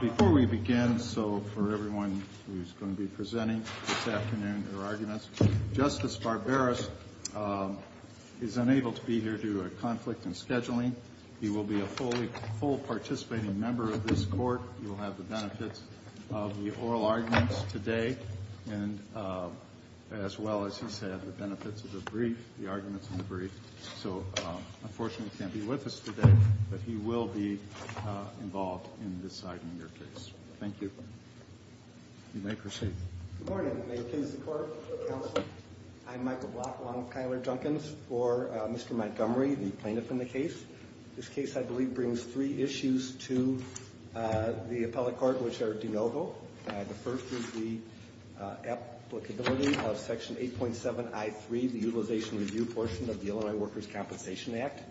Before we begin, so for everyone who's going to be presenting this afternoon their arguments, Justice Barberis is unable to be here due to a conflict in scheduling. He will be a participating member of this court. He will have the benefits of the oral arguments today, as well as, he said, the benefits of the brief, the arguments in the brief. So unfortunately, he can't be with us today, but he will be involved in deciding your case. Thank you. You may proceed. Good morning. May it please the Court, Counsel. I'm Michael Block along with Kyler Duncans for Mr. Montgomery, the plaintiff in the case. This case, I believe, brings three issues to the appellate court, which are de novo. The first is the applicability of Section 8.7I3, the Utilization Review portion of the Illinois Workers' Compensation Act.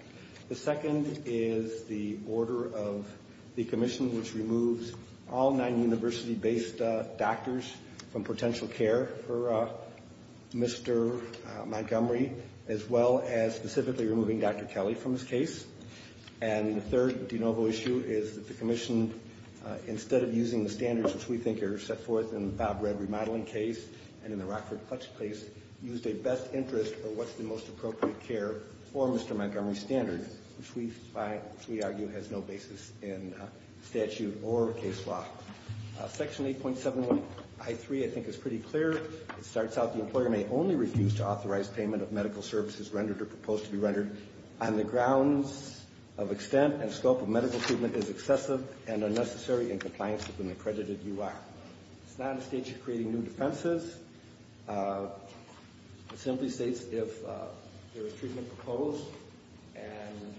The second is the order of the commission, which removes all non-university-based doctors from potential care for Mr. Montgomery, as well as specifically removing Dr. Kelly from his case. And the third de novo issue is that the commission, instead of using the standards which we think are set forth in the Bob Red remodeling case and in the Rockford Clutch case, used a best interest or what's the most appropriate care for Mr. Montgomery standard, which we find, which we argue has no basis in statute or case law. Section 8.7I3, I think, is pretty clear. It starts out, the employer may only refuse to authorize payment of medical services rendered or proposed to be rendered on the grounds of extent and scope of medical treatment is excessive and unnecessary in compliance with an accredited UI. It's not a stage of creating new defenses. It simply states if there is treatment proposed and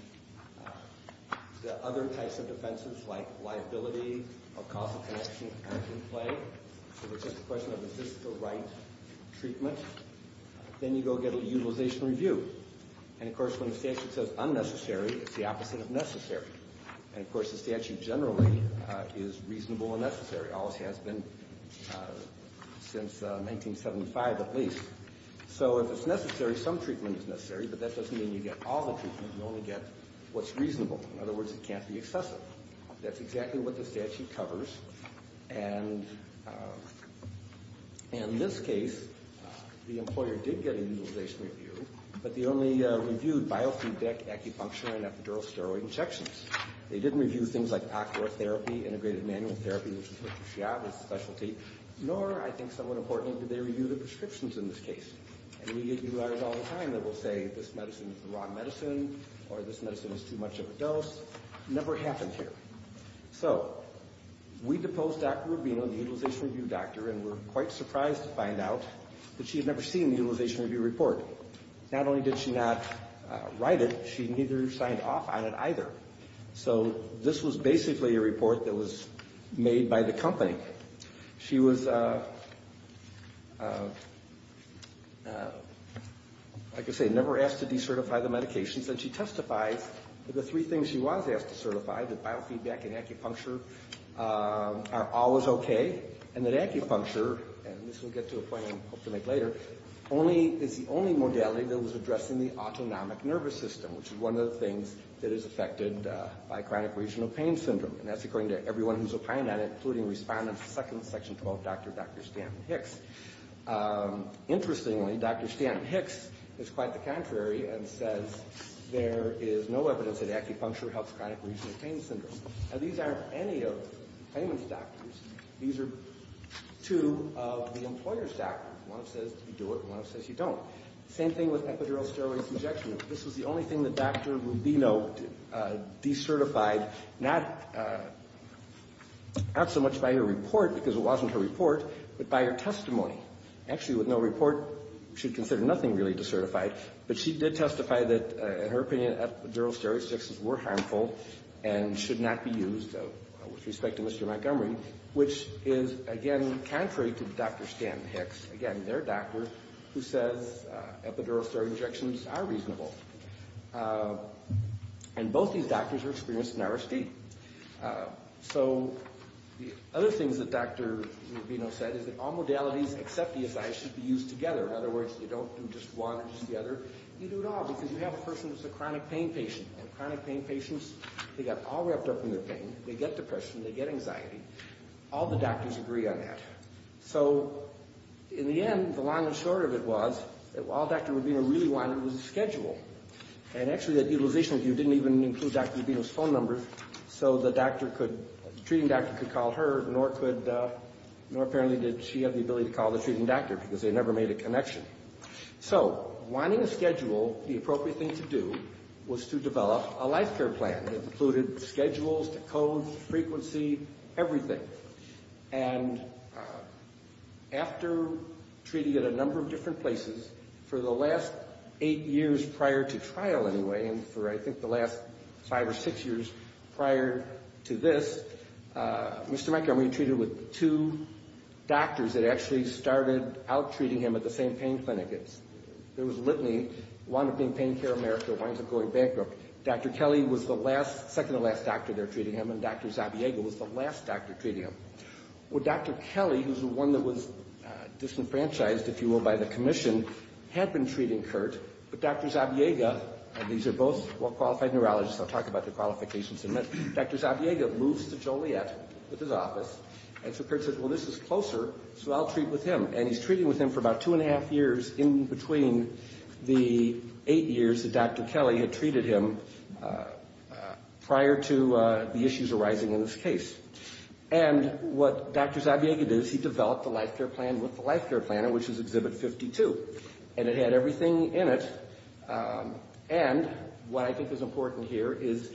the other types of defenses like liability or cost of connection aren't in play, so it's just a question of is this the right treatment, then you go get a Utilization Review. And, of course, when the statute says unnecessary, it's the opposite of necessary. And, of course, the statute generally is reasonable and necessary, always has been, since 1975 at least. So if it's necessary, some treatment is necessary, but that doesn't mean you get all the treatment. You only get what's reasonable. In other words, it can't be excessive. That's exactly what the statute covers. And in this case, the employer did get a Utilization Review, but they only reviewed biofeedback, acupuncture, and epidural steroid injections. They didn't review things like ocular therapy, integrated manual therapy, which is what Dr. Shiab is a specialty, nor, I think somewhat importantly, did they review the prescriptions in this case. And we get UIs all the time that will say this medicine is the wrong medicine or this medicine is too much of a dose. It never happened here. So we deposed Dr. Rubino, the Utilization Review doctor, and were quite surprised to find out that she had never seen the Utilization Review report. Not only did she not write it, she neither signed off on it either. So this was basically a report that was made by the company. She was, like I say, never asked to decertify the medications, and she testified that the three things she was asked to certify, that biofeedback and acupuncture, are always okay, and that acupuncture, and this will get to a point I hope to make later, is the only modality that was addressed in the autonomic nervous system, which is one of the things that is affected by chronic regional pain syndrome. And that's according to everyone who's opined on it, including Respondent 2nd, Section 12 doctor, Dr. Stanton-Hicks. Interestingly, Dr. Stanton-Hicks is quite the contrary and says there is no evidence that acupuncture helps chronic regional pain syndrome. Now these aren't any of the employer's doctors. One says you do it, and one says you don't. Same thing with epidural steroid injections. This was the only thing that Dr. Rubino decertified, not so much by her report, because it wasn't her report, but by her testimony. Actually with no report, we should consider nothing really decertified, but she did testify that, in her opinion, epidural steroid injections were harmful and should not be used, with respect to Mr. Montgomery, which is, again, contrary to Dr. Stanton-Hicks, again, their doctor, who says epidural steroid injections are reasonable. And both these doctors are experienced in RSD. So the other things that Dr. Rubino said is that all modalities except ESI should be used together. In other words, you don't do just one or just the other. You do it all, because you have a person who's a chronic pain patient, and they get depression, they get anxiety. All the doctors agree on that. So in the end, the long and short of it was that all Dr. Rubino really wanted was a schedule. And actually that utilization review didn't even include Dr. Rubino's phone number, so the treating doctor could call her, nor apparently did she have the ability to call the treating doctor, because they never made a connection. So wanting a schedule, the frequency, everything. And after treating at a number of different places, for the last eight years prior to trial anyway, and for I think the last five or six years prior to this, Mr. Montgomery treated with two doctors that actually started out treating him at the same pain clinic. There was Dr. Zabiega was the last doctor treating him. Well, Dr. Kelly, who's the one that was disenfranchised, if you will, by the commission, had been treating Kurt, but Dr. Zabiega, and these are both well-qualified neurologists, I'll talk about their qualifications in a minute, Dr. Zabiega moves to Joliet with his office, and so Kurt says, well, this is closer, so I'll treat with him. And he's treating with him for about two and a half years in between the eight years that Dr. Kelly had treated him prior to the issues arising in this case. And what Dr. Zabiega did is he developed a life care plan with the life care planner, which is Exhibit 52. And it had everything in it, and what I think is important here is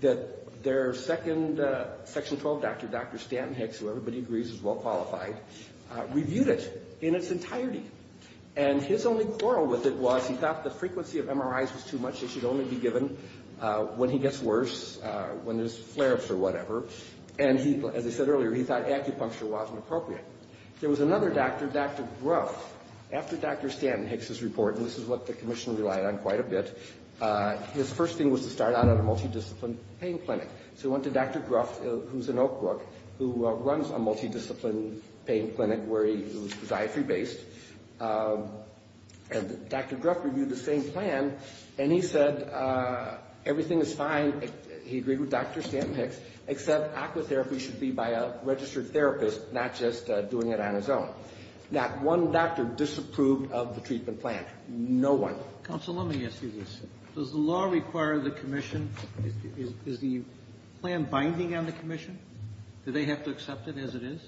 that their second Section 12 doctor, Dr. was he thought the frequency of MRIs was too much, they should only be given when he gets worse, when there's flare-ups or whatever, and he, as I said earlier, he thought acupuncture wasn't appropriate. There was another doctor, Dr. Gruff. After Dr. Stanton Hicks' report, and this is what the commission relied on quite a bit, his first thing was to start out at a multidiscipline pain clinic. So he went to Dr. Gruff, who's in Oak Brook, who runs a clinic, and Dr. Gruff reviewed the same plan, and he said everything is fine. He agreed with Dr. Stanton Hicks, except aqua therapy should be by a registered therapist, not just doing it on his own. Not one doctor disapproved of the treatment plan. No one. Counsel, let me ask you this. Does the law require the commission, is the plan binding on the commission? Do they have to accept it as it is?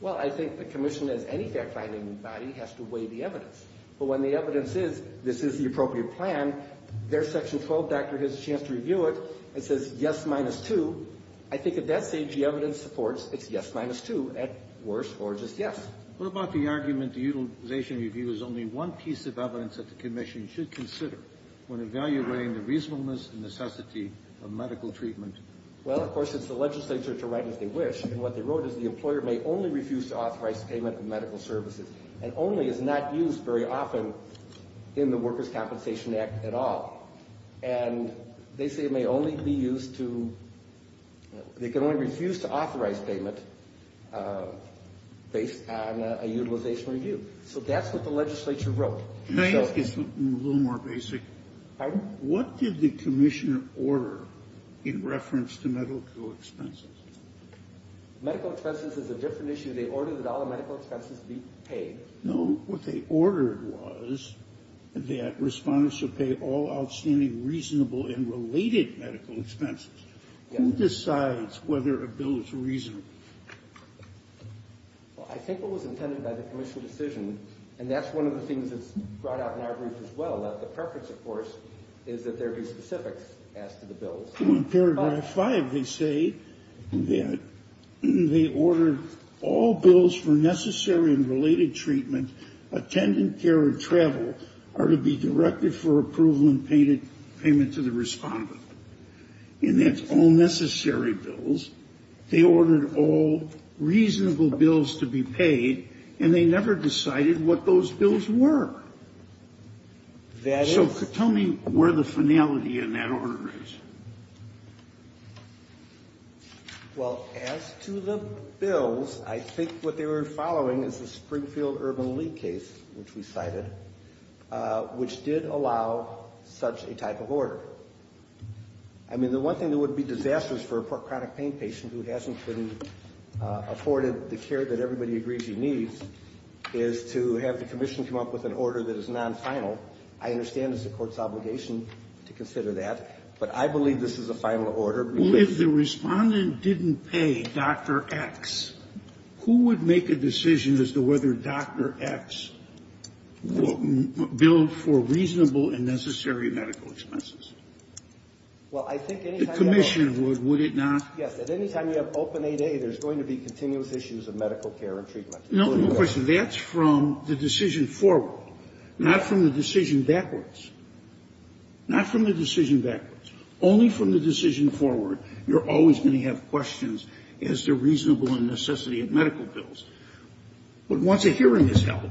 Well, I think the commission, as any fact-finding body, has to weigh the evidence. But when the evidence is, this is the appropriate plan, there's section 12, doctor has a chance to review it, it says yes minus two. I think at that stage the evidence supports it's yes minus two at worse or just yes. What about the argument the utilization review is only one piece of evidence that the commission should consider when evaluating the reasonableness and necessity of medical treatment? Well, of course, it's the legislature to write as they wish, and what they wrote is the employer may only refuse to authorize payment of medical services, and only is not used very often in the Workers' Compensation Act at all. And they say it may only be used to, they can only refuse to authorize payment based on a utilization review. So that's what the legislature wrote. Can I ask you something a little more basic? Pardon? What did the commission order in reference to medical expenses? Medical expenses is a different issue. They ordered that all medical expenses be paid. No, what they ordered was that respondents should pay all outstanding reasonable and related medical expenses. Who decides whether a bill is reasonable? Well, I think it was intended by the bill. In Paragraph 5, they say that they ordered all bills for necessary and related treatment, attendant care, or travel are to be directed for approval and payment to the respondent. And that's all necessary bills. They ordered all reasonable bills to be paid, and they never decided what those bills were. So tell me where the finality is. Well, as to the bills, I think what they were following is the Springfield Urban League case, which we cited, which did allow such a type of order. I mean, the one thing that would be disastrous for a chronic pain patient who hasn't been afforded the care that everybody agrees he needs is to have the commission come up with an order that is going to make a decision as to whether that, but I believe this is a final order. If the Respondent didn't pay Dr. X, who would make a decision as to whether Dr. X would bill for reasonable and necessary medical expenses? Well, I think any time you have open 8A, there's going to be continuous issues of medical care and treatment. No, of course, that's from the decision forward, not from the decision backwards. Not from the decision backwards. Only from the decision forward, you're always going to have questions as to reasonable and necessity of medical bills. But once a hearing is held,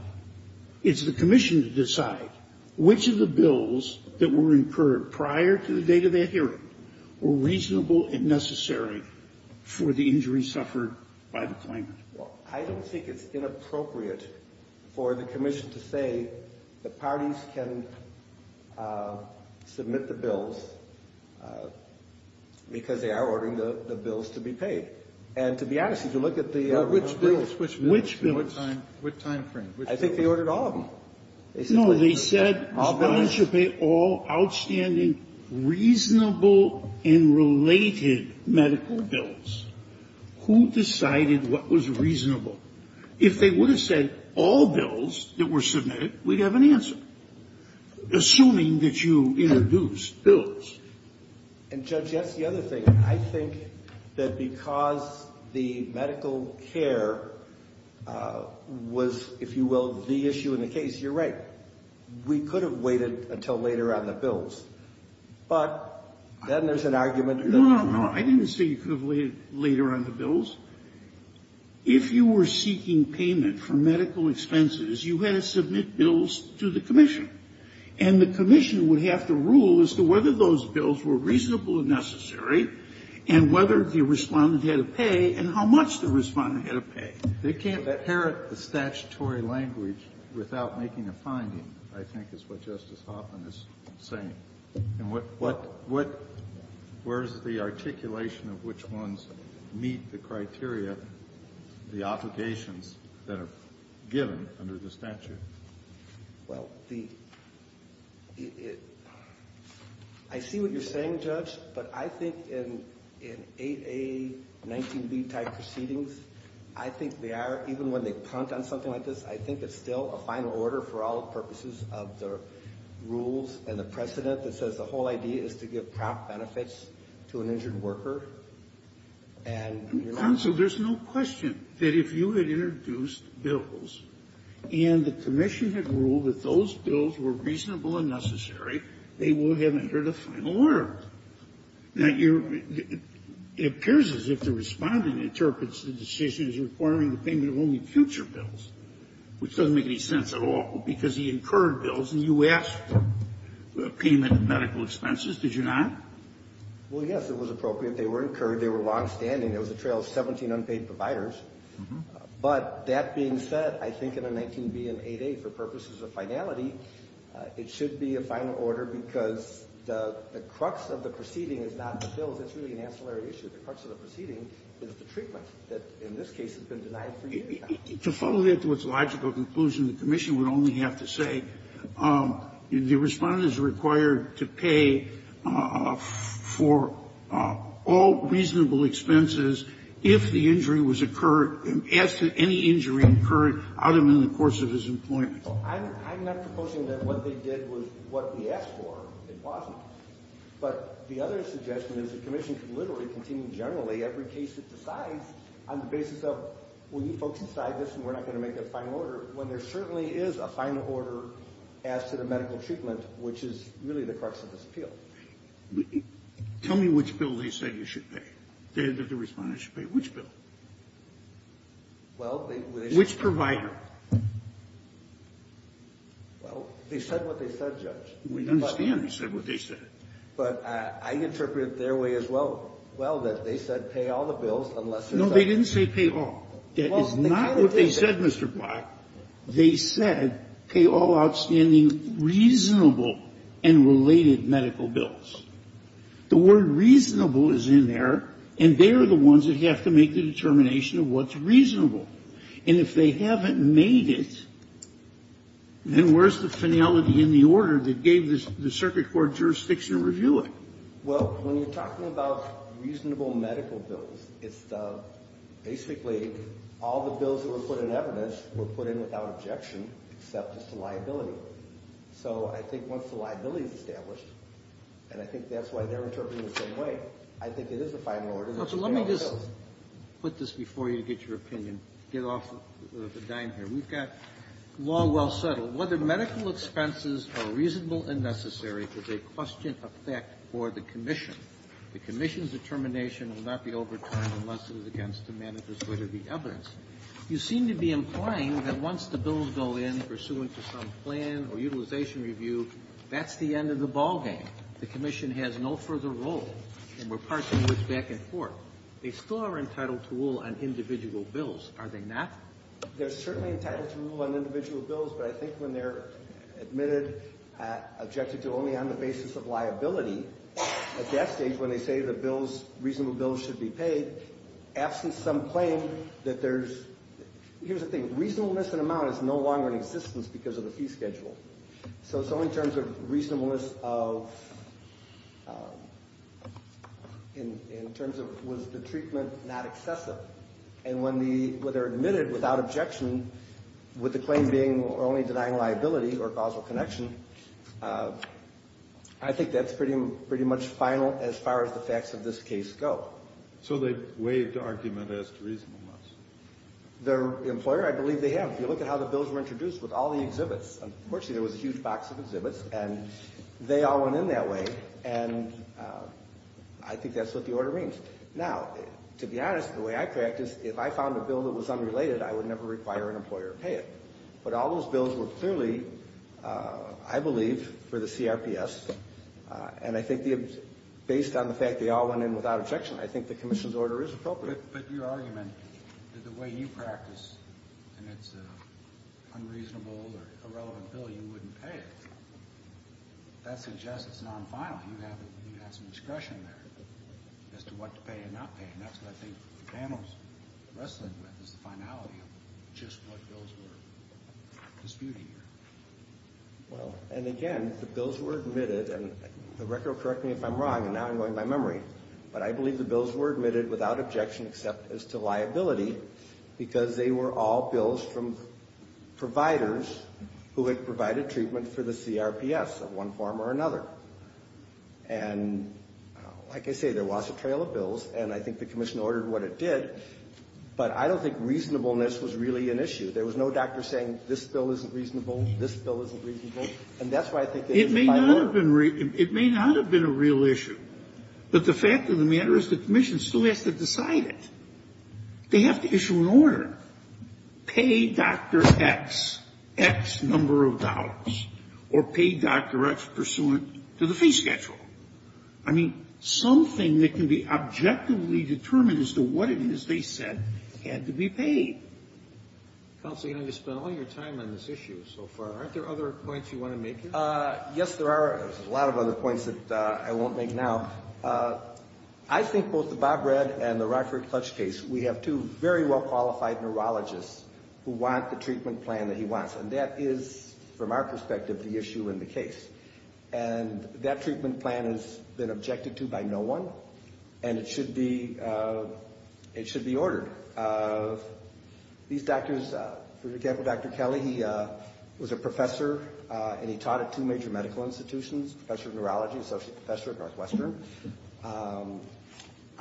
it's the commission to decide which of the bills that were incurred prior to the date of that hearing were reasonable and necessary for the injury suffered by the claimant. Well, I don't think it's inappropriate for the commission to say the parties can submit the bills because they are ordering the bills to be paid. And to be honest, if you look at the rules. Which bills? Which bills? What time frame? I think they ordered all of them. No, they said all bills should pay all outstanding reasonable and related medical bills. Who decided what was reasonable? If they would have said all bills that were submitted, we'd have an answer. Assuming that you introduced bills. And, Judge, that's the other thing. I think that because the medical care was, if you will, the issue in the case, you're right. We could have waited until later on the bills. But then there's an argument. No, no, no. I didn't say you could have waited later on the bills. If you were seeking payment for medical expenses, you had to submit bills to the commission. And the commission would have to rule as to whether those bills were reasonable and necessary and whether the Respondent had to pay and how much the Respondent had to pay. They can't inherit the statutory language without making a finding, I think, is what Justice Hoffman is saying. And where's the articulation of which ones meet the criteria, the obligations that are given under the statute? Well, I see what you're saying, Judge. But I think in 8A, 19B type proceedings, I think they are, even when they punt on something like this, I think it's still a final order for all purposes of the rules and the precedent that says the whole idea is to give prop benefits to an injured worker, and you're not going to do that. Counsel, there's no question that if you had introduced bills and the commission had ruled that those bills were reasonable and necessary, they would have entered a final order. Now, it appears as if the Respondent interprets the decision as requiring the payment of only future bills, which doesn't make any sense at all, because he incurred those bills, and you asked for a payment of medical expenses, did you not? Well, yes, it was appropriate. They were incurred. They were longstanding. It was a trail of 17 unpaid providers. But that being said, I think in a 19B and 8A, for purposes of finality, it should be a final order because the crux of the proceeding is not the bills. It's really an ancillary issue. The crux of the proceeding is the treatment that, in this case, has been denied for years. To follow that to its logical conclusion, the commission would only have to say the Respondent is required to pay for all reasonable expenses if the injury was incurred as to any injury incurred out of the course of his employment. I'm not proposing that what they did was what we asked for. It wasn't. But the other suggestion is the commission could literally continue generally every case it decides on the basis of, well, you folks decide this, and we're not going to make a final order, when there certainly is a final order as to the medical treatment, which is really the crux of this appeal. Tell me which bill they said you should pay, that the Respondent should pay. Which bill? Well, they said... Which provider? Well, they said what they said, Judge. We understand they said what they said. But I interpret it their way as well, that they said pay all the bills unless there's a... No, they didn't say pay all. That is not what they said, Mr. Block. They said pay all outstanding reasonable and related medical bills. The word reasonable is in there, and they are the ones that have to make the determination of what's reasonable. And if they haven't made it, then where's the finality in the order that gave the Circuit Court jurisdiction to review it? Well, when you're talking about reasonable medical bills, it's basically all the bills that were put in evidence were put in without objection, except as to liability. So I think once the liability is established, and I think that's why they're interpreting the same way, I think it is a final order that should pay all the bills. Well, so let me just put this before you to get your opinion, get off the dime here. We've got law well settled. Whether medical expenses are reasonable and necessary is a question of fact for the commission. The commission's determination will not be overturned unless it is against the manifest weight of the evidence. You seem to be implying that once the bills go in pursuant to some plan or utilization review, that's the end of the ballgame. The commission has no further role, and we're parsing words back and forth. They still are entitled to rule on individual bills, are they not? They're certainly entitled to rule on individual bills, but I think when they're admitted, objected to only on the basis of liability, at that stage when they say the bills, reasonable bills should be paid, absent some claim that there's, here's the thing, reasonableness in amount is no longer in existence because of the fee schedule. So it's only in terms of reasonableness of, in terms of was the treatment not excessive? And when they're admitted without objection, with the claim being only denying liability or causal connection, I think that's pretty much final as far as the facts of this case go. So they waive the argument as to reasonableness? The employer, I believe they have. If you look at how the bills were introduced with all the exhibits, unfortunately there was a huge box of exhibits, and they all went in that way, and I think that's what the order means. Now, to be honest, the way I practice, if I found a bill that was unrelated, I would never require an employer to pay it. But all those bills were clearly, I believe, for the CRPS, and I think based on the fact they all went in without objection, I think the commission's order is appropriate. But your argument that the way you practice, and it's an unreasonable or irrelevant bill, you wouldn't pay it, that suggests it's non-final. You have some discretion there as to what to pay and not pay, and that's what I think the panel's wrestling with, is the finality of just what bills were disputed here. Well, and again, the bills were admitted, and the record will correct me if I'm wrong, and now I'm going by memory, but I believe the bills were admitted without objection except as to liability, because they were all bills from providers who had provided treatment for the CRPS of one form or another. And like I say, there was a trail of bills, and I think the commission ordered what it did, but I don't think reasonableness was really an issue. There was no doctor saying this bill isn't reasonable, this bill isn't reasonable, and that's why I think they didn't file it. It may not have been a real issue, but the fact of the matter is the commission still has to decide it. They have to issue an order. Pay Dr. X, X number of dollars, or pay Dr. X pursuant to the fee schedule. I mean, something that can be objectively determined as to what it is they said had to be paid. Counsel, you're going to have to spend all your time on this issue so far. Aren't there other points you want to make here? Yes, there are a lot of other points that I won't make now. I think both the Bob Redd and the Rockford Clutch case, we have two very well qualified neurologists who want the treatment plan that he wants, and that is, from our perspective, the issue in the case. And that treatment plan has been objected to by no one, and it should be ordered. These doctors, for example, Dr. Kelly, he was a professor, and he taught at two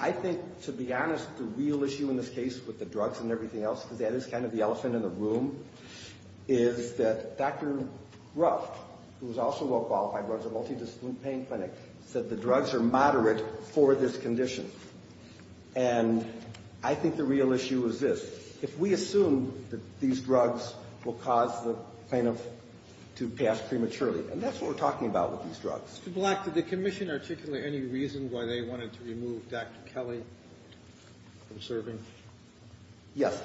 I think, to be honest, the real issue in this case with the drugs and everything else, because that is kind of the elephant in the room, is that Dr. Ruff, who is also well qualified, runs a multidisciplinary pain clinic, said the drugs are moderate for this condition. And I think the real issue is this. If we assume that these drugs will cause the plaintiff to pass prematurely, and that's what we're talking about with these drugs. Mr. Black, did the commission articulate any reason why they wanted to remove Dr. Kelly from serving? Yes.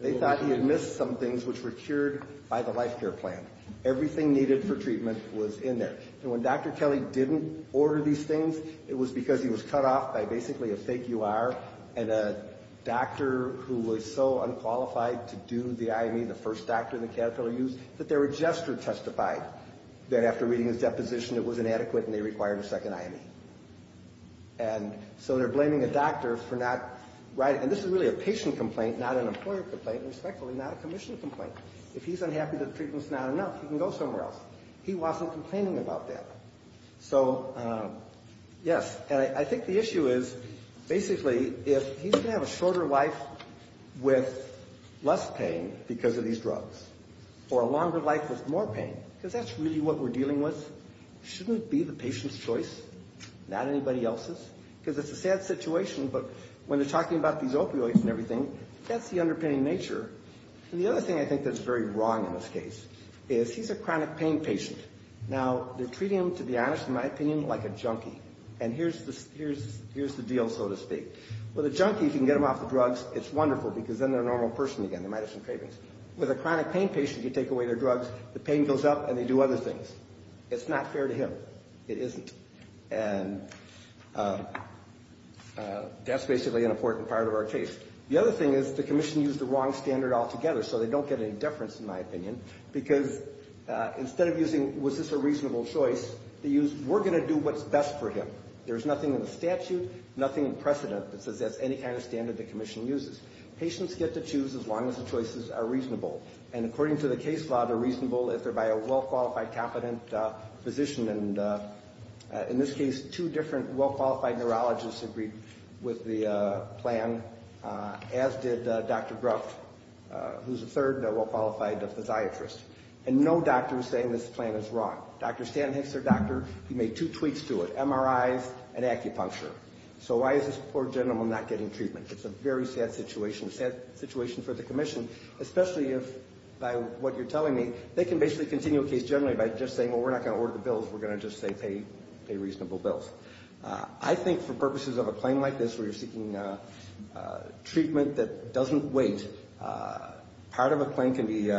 They thought he had missed some things, which were cured by the life care plan. Everything needed for treatment was in there. And when Dr. Kelly didn't order these things, it was because he was cut off by basically a fake UR and a doctor who was so unqualified to do the IME, the first doctor in the catheter use, that there were gestures testified that after reading his deposition it was inadequate and they required a second IME. And so they're blaming a doctor for not writing. And this is really a patient complaint, not an employer complaint, and respectfully not a commission complaint. If he's unhappy that the treatment's not enough, he can go somewhere else. He wasn't complaining about that. So, yes. And I think the issue is, basically, if he's going to have a shorter life with less pain because of these drugs, or a longer life with more pain, because that's really what we're dealing with, shouldn't it be the patient's choice, not anybody else's? Because it's a sad situation, but when they're talking about these opioids and everything, that's the underpinning nature. And the other thing I think that's very wrong in this case is he's a chronic pain patient. Now, they're treating him, to be honest, in my opinion, like a junkie. And here's the deal, so to speak. With a junkie, you can get him off the drugs. It's wonderful, because then they're a normal person again. They might have some cravings. With a chronic pain patient, you take away their drugs, the pain goes up, and they do other things. It's not fair to him. It isn't. And that's basically an important part of our case. The other thing is the commission used the wrong standard altogether, so they don't get any deference, in my opinion, because instead of using, was this a reasonable choice, they used, we're going to do what's best for him. There's nothing in the statute, nothing in precedent that says that's any kind of standard the commission uses. Patients get to choose as long as the choices are reasonable. And according to the case law, they're reasonable if they're by a well-qualified, competent physician. And in this case, two different well-qualified neurologists agreed with the plan, as did Dr. Gruff, who's a third well-qualified physiatrist. And no doctor is saying this plan is wrong. Dr. Stan Hicks, their doctor, he made two tweaks to it, MRIs and acupuncture. So why is this poor gentleman not getting treatment? It's a very sad situation. It's a sad situation for the commission, especially if, by what you're telling me, they can basically continue a case generally by just saying, well, we're not going to order the bills, we're going to just say pay reasonable bills. I think for purposes of a claim like this where you're seeking treatment that doesn't wait, part of a claim can be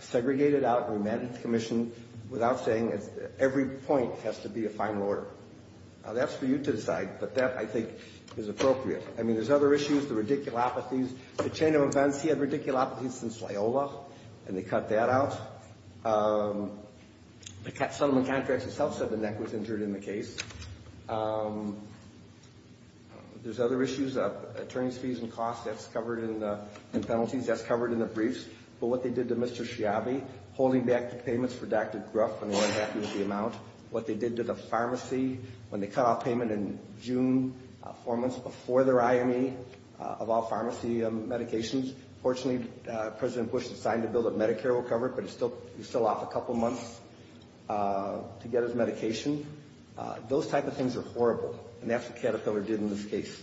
segregated out and remanded to the commission without saying every point has to be a final order. That's for you to decide, but that, I think, is appropriate. I mean, there's other issues, the radiculopathies. The chain of events, he had radiculopathies since Loyola, and they cut that out. The settlement contracts itself said the neck was injured in the case. There's other issues, attorneys' fees and costs, that's covered in penalties, that's covered in the briefs. But what they did to Mr. Schiavi, holding back the payments for Dr. Gruff when they were unhappy with the amount, what they did to the pharmacy when they cut off payment in June, four months before their IME of all pharmacy medications. Fortunately, President Bush signed a bill that Medicare will cover it, but he's still off a couple months to get his medication. Those type of things are horrible, and that's what Caterpillar did in this case.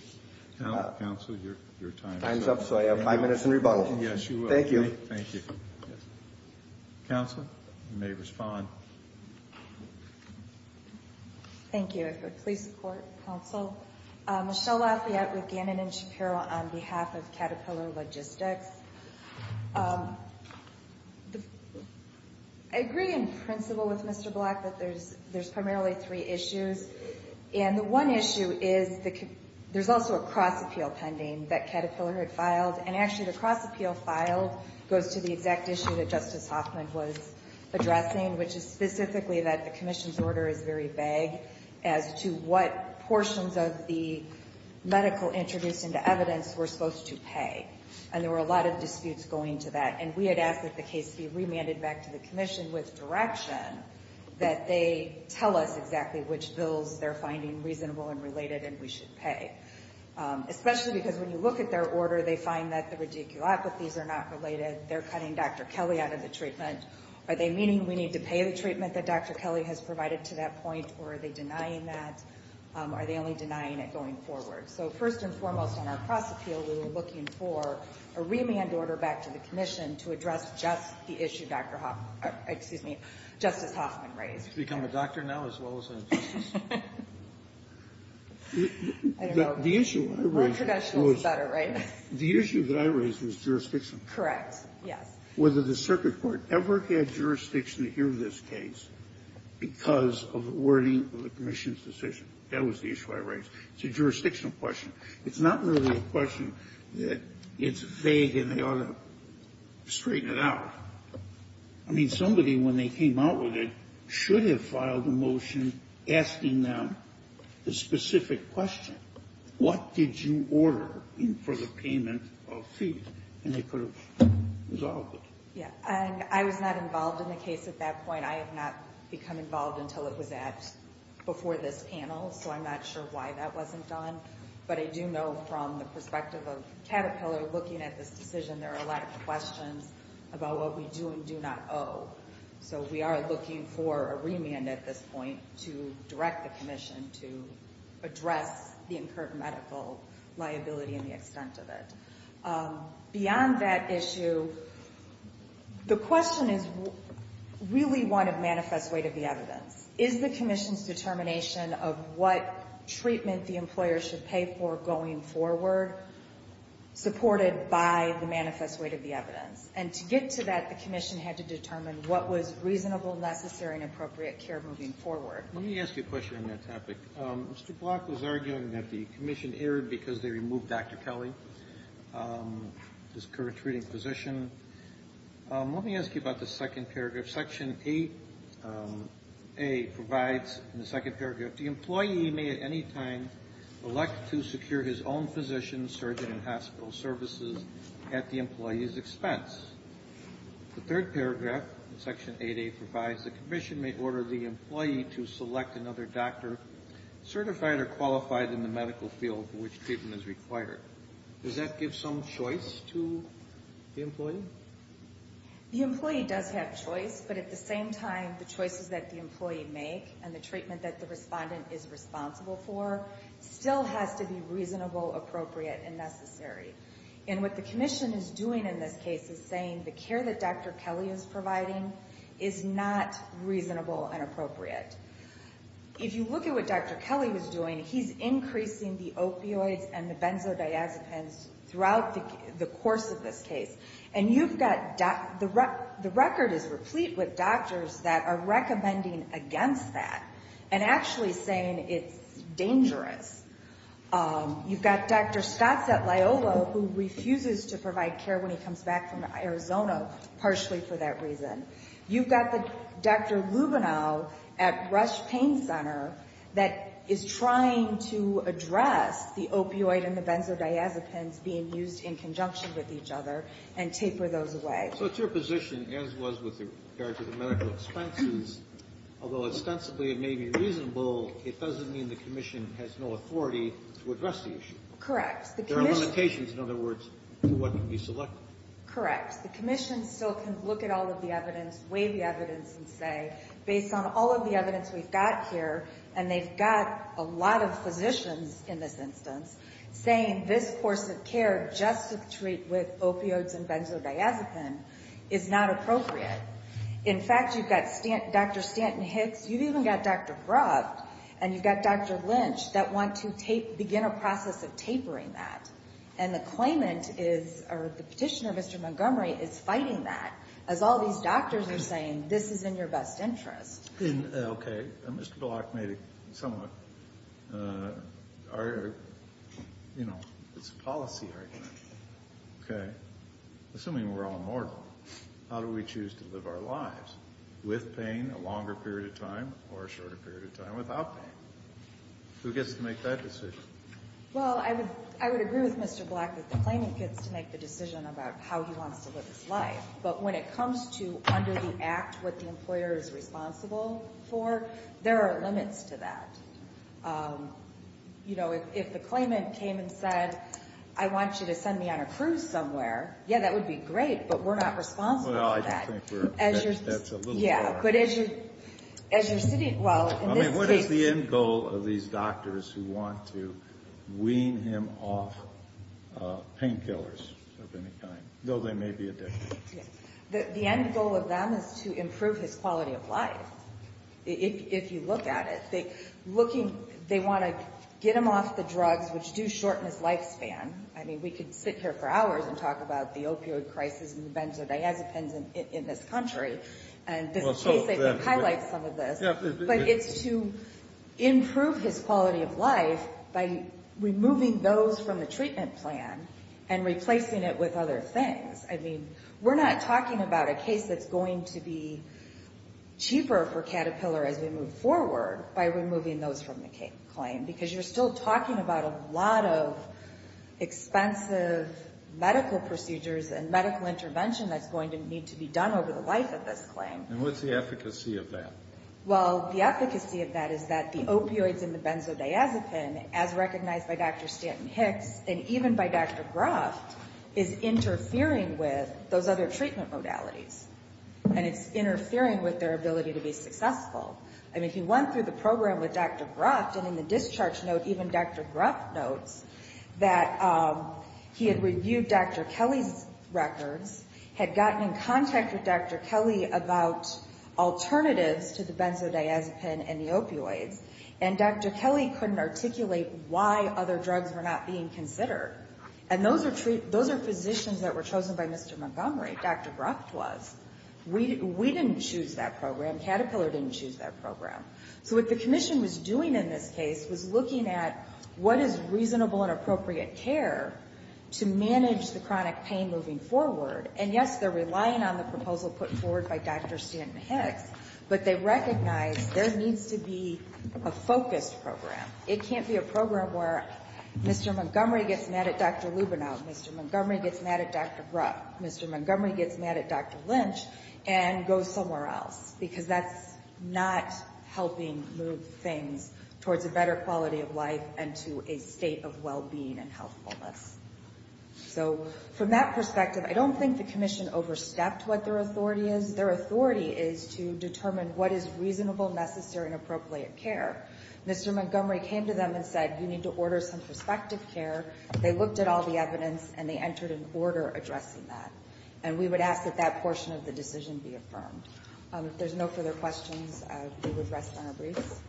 Counsel, your time is up. Time's up, so I have five minutes in rebuttal. Yes, you will. Thank you. Counsel, you may respond. Thank you. If it would please support, counsel. Michelle Lafayette with Gannon and Shapiro on behalf of Caterpillar Logistics. I agree in principle with Mr. Block that there's primarily three issues. And the one issue is there's also a cross-appeal pending that Caterpillar had filed, and actually, the cross-appeal filed goes to the exact issue that specifically that the commission's order is very vague as to what portions of the medical introduced into evidence we're supposed to pay. And there were a lot of disputes going to that. And we had asked that the case be remanded back to the commission with direction that they tell us exactly which bills they're finding reasonable and related and we should pay. Especially because when you look at their order, they find that the radiculopathies are not related. They're cutting Dr. Kelly out of the treatment. Are they meaning we need to pay the treatment that Dr. Kelly has provided to that point, or are they denying that? Are they only denying it going forward? So first and foremost on our cross-appeal, we were looking for a remand order back to the commission to address just the issue Justice Hoffman raised. To become a doctor now as well as a justice? I don't know. More traditional is better, right? The issue that I raised was jurisdiction. Correct. Yes. Whether the circuit court ever had jurisdiction to hear this case because of the wording of the commission's decision. That was the issue I raised. It's a jurisdictional question. It's not really a question that it's vague and they ought to straighten it out. I mean, somebody, when they came out with it, should have filed a motion asking them the specific question. What did you order for the payment of fees? And they could have resolved it. Yeah. I was not involved in the case at that point. I have not become involved until it was asked before this panel, so I'm not sure why that wasn't done. But I do know from the perspective of Caterpillar looking at this decision, there are a lot of questions about what we do and do not owe. So we are looking for a remand at this point to direct the commission to address the incurred medical liability and the extent of it. Beyond that issue, the question is really one of manifest weight of the evidence. Is the commission's determination of what treatment the employer should pay for going forward supported by the manifest weight of the evidence? And to get to that, the commission had to determine what was reasonable, necessary, and appropriate care moving forward. Let me ask you a question on that topic. Mr. Block was arguing that the commission erred because they removed Dr. Kelly, his current treating physician. Let me ask you about the second paragraph. Section 8A provides in the second paragraph, the employee may at any time elect to secure his own physician, surgeon, and hospital services at the employee's expense. The third paragraph in Section 8A provides the commission may order the employee to select another doctor certified or qualified in the medical field for which treatment is required. Does that give some choice to the employee? The employee does have choice, but at the same time, the choices that the employee make and the treatment that the respondent is responsible for still has to be reasonable, appropriate, and necessary. And what the commission is doing in this case is saying the care that Dr. Kelly is providing is not reasonable and appropriate. If you look at what Dr. Kelly was doing, he's increasing the opioids and the benzodiazepines throughout the course of this case. And you've got the record is replete with doctors that are recommending against that and actually saying it's dangerous. You've got Dr. Scott Setliolo who refuses to provide care when he comes back from Arizona, partially for that reason. You've got Dr. Lubino at Rush Pain Center that is trying to address the opioid and the benzodiazepines being used in conjunction with each other and taper those away. So it's your position, as was with regard to the medical expenses, although ostensibly it may be reasonable, it doesn't mean the commission has no authority to address the issue. Correct. There are limitations, in other words, to what can be selected. Correct. The commission still can look at all of the evidence, weigh the evidence, and say based on all of the evidence we've got here, and they've got a lot of physicians in this instance saying this course of care just to treat with opioids and benzodiazepine is not appropriate. In fact, you've got Dr. Stanton-Hicks, you've even got Dr. Groft, and you've got Dr. Lynch that want to begin a process of tapering that. And the claimant is, or the petitioner, Mr. Montgomery, is fighting that as all these doctors are saying this is in your best interest. Okay. Mr. Block made a somewhat, you know, it's a policy argument. Okay. Assuming we're all mortal, how do we choose to live our lives? With pain a longer period of time or a shorter period of time without pain? Who gets to make that decision? Well, I would agree with Mr. Block that the claimant gets to make the decision about how he wants to live his life. But when it comes to under the act what the employer is responsible for, there are limits to that. You know, if the claimant came and said, I want you to send me on a cruise somewhere, yeah, that would be great, but we're not responsible for that. Well, I think that's a little more. Yeah. I mean, what is the end goal of these doctors who want to wean him off painkillers of any kind, though they may be addicted? The end goal of them is to improve his quality of life, if you look at it. They want to get him off the drugs, which do shorten his lifespan. I mean, we could sit here for hours and talk about the opioid crisis and the benzodiazepines in this country. And this case, I think, highlights some of this. But it's to improve his quality of life by removing those from the treatment plan and replacing it with other things. I mean, we're not talking about a case that's going to be cheaper for Caterpillar as we move forward by removing those from the claim, because you're still talking about a lot of expensive medical procedures and medical intervention that's going to need to be done over the life of this claim. And what's the efficacy of that? Well, the efficacy of that is that the opioids in the benzodiazepine, as recognized by Dr. Stanton-Hicks and even by Dr. Gruff, is interfering with those other treatment modalities, and it's interfering with their ability to be successful. I mean, if you went through the program with Dr. Gruff, and in the discharge note, even Dr. Gruff notes that he had reviewed Dr. Kelly's records, had gotten in contact with Dr. Kelly about alternatives to the benzodiazepine and the opioids, and Dr. Kelly couldn't articulate why other drugs were not being considered. And those are physicians that were chosen by Mr. Montgomery. Dr. Gruff was. We didn't choose that program. Caterpillar didn't choose that program. So what the commission was doing in this case was looking at what is reasonable and appropriate care to manage the chronic pain moving forward. And, yes, they're relying on the proposal put forward by Dr. Stanton-Hicks, but they recognize there needs to be a focused program. It can't be a program where Mr. Montgomery gets mad at Dr. Lubino, Mr. Montgomery gets mad at Dr. Gruff, Mr. Montgomery gets mad at Dr. Lynch, and goes somewhere else because that's not helping move things towards a better quality of life and to a state of well-being and healthfulness. So from that perspective, I don't think the commission overstepped what their authority is. Their authority is to determine what is reasonable, necessary, and appropriate care. Mr. Montgomery came to them and said, you need to order some prospective care. They looked at all the evidence, and they entered an order addressing that. And we would ask that that portion of the decision be affirmed. If there's no further questions, we would rest on our briefs.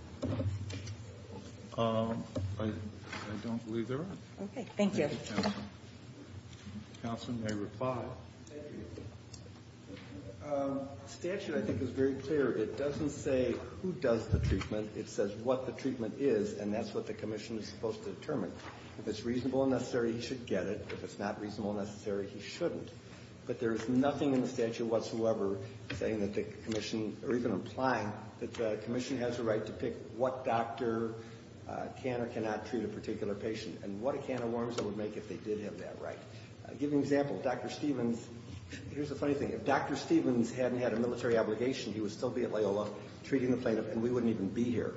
I don't believe there are. Okay. Thank you. Thank you, Counselor. Counselor may reply. Thank you. The statute, I think, is very clear. It doesn't say who does the treatment. It says what the treatment is, and that's what the commission is supposed to determine. If it's reasonable and necessary, he should get it. If it's not reasonable and necessary, he shouldn't. But there is nothing in the statute whatsoever saying that the commission, or even implying that the commission has a right to pick what doctor can or cannot treat a particular patient, and what a can of worms it would make if they did have that right. I'll give you an example. Dr. Stephens, here's a funny thing. If Dr. Stephens hadn't had a military obligation, he would still be at Loyola treating the plaintiff, and we wouldn't even be here.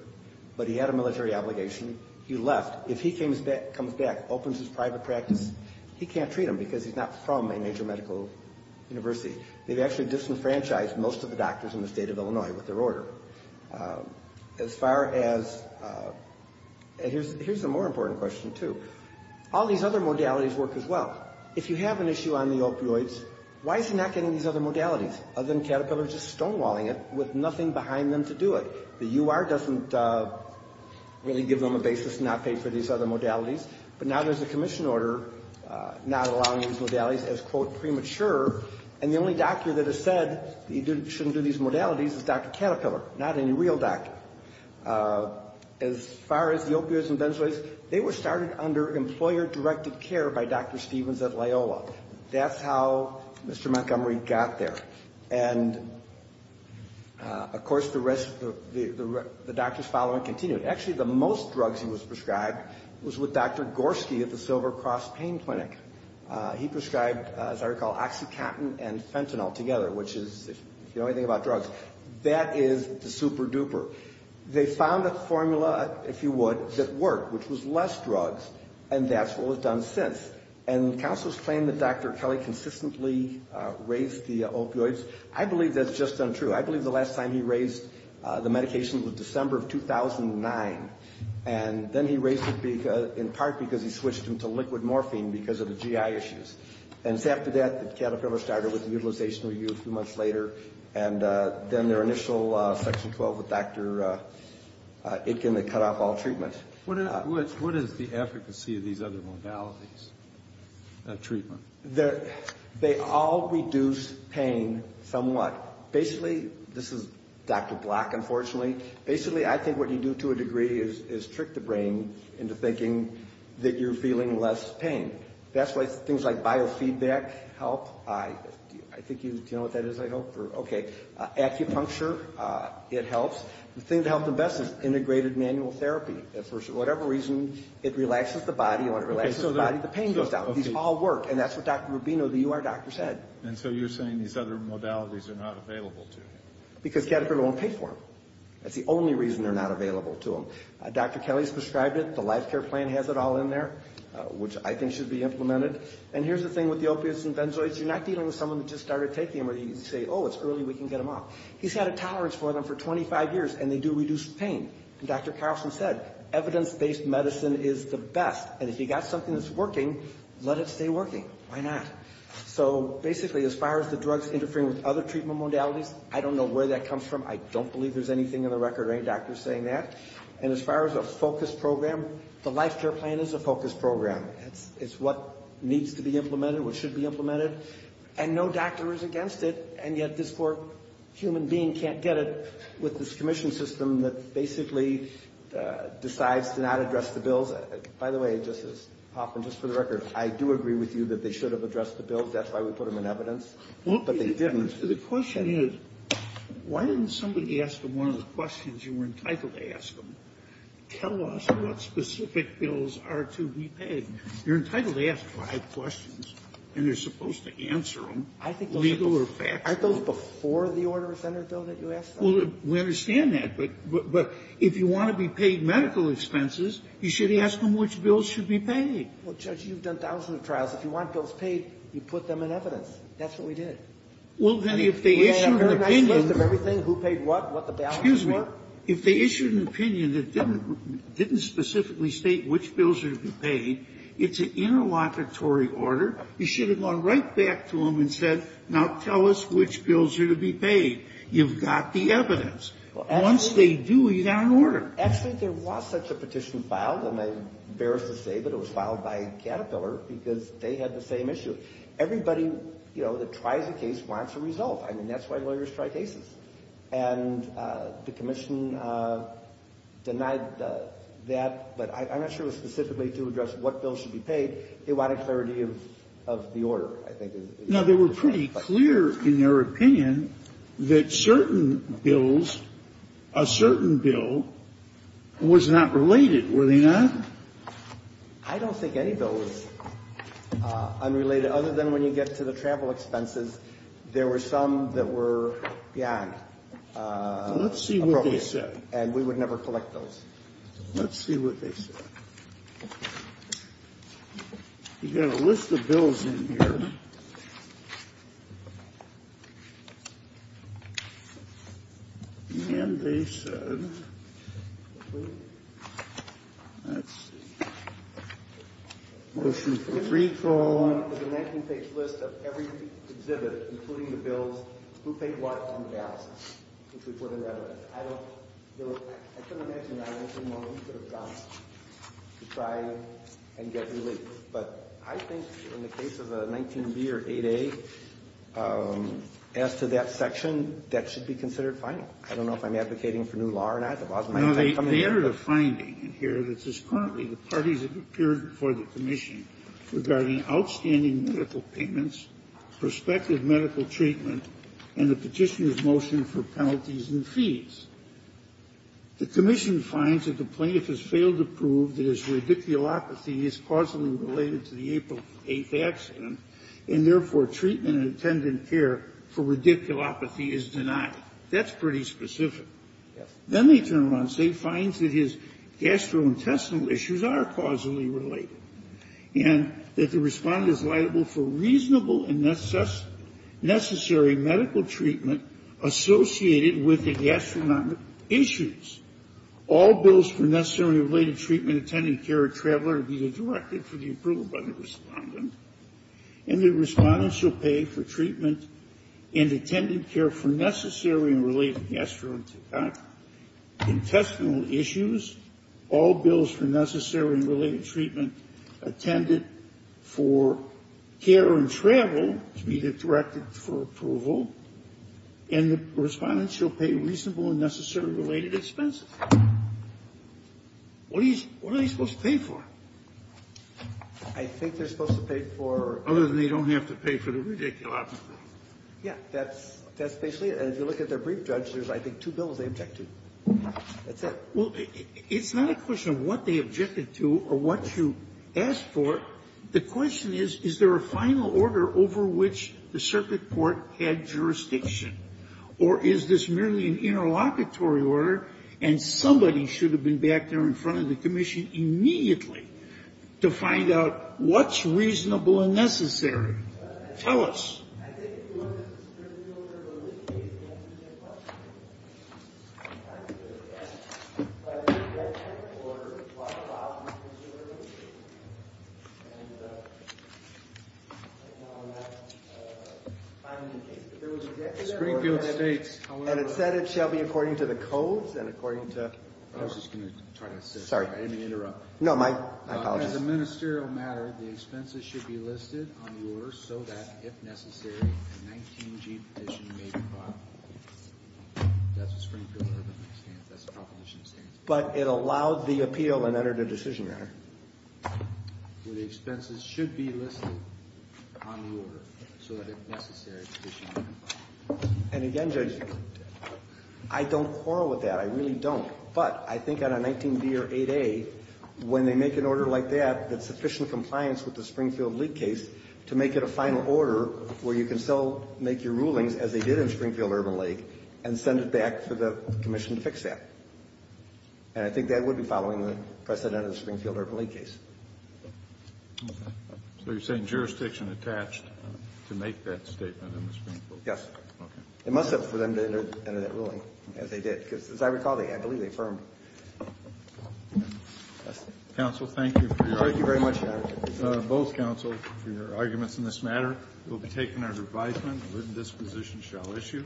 But he had a military obligation. He left. If he comes back, opens his private practice, he can't treat him, because he's not from a major medical university. They've actually disenfranchised most of the doctors in the state of Illinois with their order. As far as, and here's a more important question, too. All these other modalities work as well. If you have an issue on the opioids, why is he not getting these other modalities, other than Caterpillar just stonewalling it with nothing behind them to do it? The U.R. doesn't really give them a basis to not pay for these other modalities, but now there's a commission order not allowing these modalities as, quote, premature, and the only doctor that has said he shouldn't do these modalities is Dr. Caterpillar, not any real doctor. As far as the opioids and benzoids, they were started under employer-directed care by Dr. Stephens at Loyola. That's how Mr. Montgomery got there. And, of course, the rest of the doctors following continued. Actually, the most drugs he was prescribed was with Dr. Gorski at the Silver Cross Pain Clinic. He prescribed, as I recall, OxyContin and Fentanyl together, which is, if you know anything about drugs, that is the super duper. They found a formula, if you would, that worked, which was less drugs, and that's what was done since. And counselors claim that Dr. Kelly consistently raised the opioids. I believe that's just untrue. I believe the last time he raised the medication was December of 2009, and then he raised it in part because he switched them to liquid morphine because of the GI issues. And it's after that that Caterpillar started with the utilization review a few months later, and then their initial Section 12 with Dr. Itkin that cut off all treatment. What is the efficacy of these other modalities of treatment? They all reduce pain somewhat. Basically, this is Dr. Block, unfortunately. Basically, I think what you do to a degree is trick the brain into thinking that you're feeling less pain. That's why things like biofeedback help. I think you know what that is, I hope. Okay. Acupuncture, it helps. The thing to help the best is integrated manual therapy. For whatever reason, it relaxes the body. When it relaxes the body, the pain goes down. These all work, and that's what Dr. Rubino, the UR doctor, said. And so you're saying these other modalities are not available to him. Because Caterpillar won't pay for them. That's the only reason they're not available to him. Dr. Kelly's prescribed it. The life care plan has it all in there, which I think should be implemented. And here's the thing with the opiates and benzoids, you're not dealing with someone who just started taking them where you say, oh, it's early, we can get them off. He's had a tolerance for them for 25 years, and they do reduce pain. And Dr. Carlson said, evidence-based medicine is the best, and if you've got something that's working, let it stay working. Why not? So basically, as far as the drugs interfering with other treatment modalities, I don't know where that comes from. I don't believe there's anything in the record or any doctors saying that. And as far as a focus program, the life care plan is a focus program. It's what needs to be implemented, what should be implemented. And no doctor is against it, and yet this poor human being can't get it with this commission system that basically decides to not address the bills. By the way, Justice Hoffman, just for the record, I do agree with you that they should have addressed the bills. That's why we put them in evidence. But they didn't. The question is, why didn't somebody ask them one of the questions you were entitled to ask them? Tell us what specific bills are to be paid. You're entitled to ask five questions, and you're supposed to answer them, legal or factual. Aren't those before the order of Senate bill that you asked them? Well, we understand that. But if you want to be paid medical expenses, you should ask them which bills should be paid. Well, Judge, you've done thousands of trials. If you want bills paid, you put them in evidence. That's what we did. Well, then, if they issued an opinion. We had a very nice list of everything, who paid what, what the balance was. Excuse me. If they issued an opinion that didn't specifically state which bills are to be paid, it's an interlocutory order. You should have gone right back to them and said, now tell us which bills are to be paid. You've got the evidence. Once they do, you've got an order. Actually, there was such a petition filed, and I'm embarrassed to say that it was filed by Caterpillar, because they had the same issue. Everybody, you know, that tries a case wants a result. I mean, that's why lawyers try cases. And the commission denied that, but I'm not sure it was specifically to address what bills should be paid. They wanted clarity of the order, I think. Now, they were pretty clear in their opinion that certain bills, a certain bill, was not related, were they not? I don't think any bill is unrelated. Other than when you get to the travel expenses, there were some that were beyond appropriate. Let's see what they said. And we would never collect those. Let's see what they said. You've got a list of bills in here. And they said, let's see, motion for recall. I don't know if I'm advocating for new law or not. They entered a finding in here that says currently the parties have appeared before the commission regarding outstanding medical payments, prospective medical treatment, and the Petitioner's motion for penalties and fees. The commission finds that the plaintiff has failed to prove that his radiculopathy is causally related to the April 8th accident, and therefore treatment and attendant care for radiculopathy is denied. That's pretty specific. Then they turn around and say he finds that his gastrointestinal issues are causally related, and that the Respondent is liable for reasonable and necessary medical treatment associated with the gastrointestinal issues. All bills for necessary related treatment, attendant care, or travel are to be redirected for the approval by the Respondent. And the Respondent shall pay for treatment and attendant care for necessary and related gastrointestinal issues. All bills for necessary and related treatment, attendant for care and travel, to be directed for approval. And the Respondent shall pay reasonable and necessary related expenses. What are they supposed to pay for? I think they're supposed to pay for other than they don't have to pay for the radiculopathy. Yeah. That's basically it. As you look at their brief, Judge, there's, I think, two bills they object to. That's it. Well, it's not a question of what they objected to or what you asked for. The question is, is there a final order over which the circuit court had jurisdiction, or is this merely an interlocutory order and somebody should have been back there in front of the commission immediately to find out what's reasonable and necessary? Tell us. I think if you look at the Springfield order, there's a list of cases that answer the same question. The Springfield order states, and it said it shall be according to the codes and according to the order. I was just going to try to assist. Sorry. I didn't mean to interrupt. No, my apologies. As a ministerial matter, the expenses should be listed on the order. First, so that, if necessary, a 19-G petition may be filed. That's the Springfield order. That's the proposition it stands by. But it allowed the appeal and entered a decision matter. The expenses should be listed on the order, so that, if necessary, a petition may be filed. And again, Judge, I don't quarrel with that. I really don't. But I think on a 19-B or 8-A, when they make an order like that, that's sufficient compliance with the Springfield League case to make it a final order where you can still make your rulings as they did in Springfield-Urban Lake and send it back for the commission to fix that. And I think that would be following the precedent of the Springfield-Urban Lake case. Okay. So you're saying jurisdiction attached to make that statement in the Springfield case? Yes. Okay. It must have for them to enter that ruling, as they did, because, as I recall, I believe they affirmed. Counsel, thank you for your honor. Thank you very much, both counsel, for your arguments in this matter. It will be taken as advisement that this position shall issue.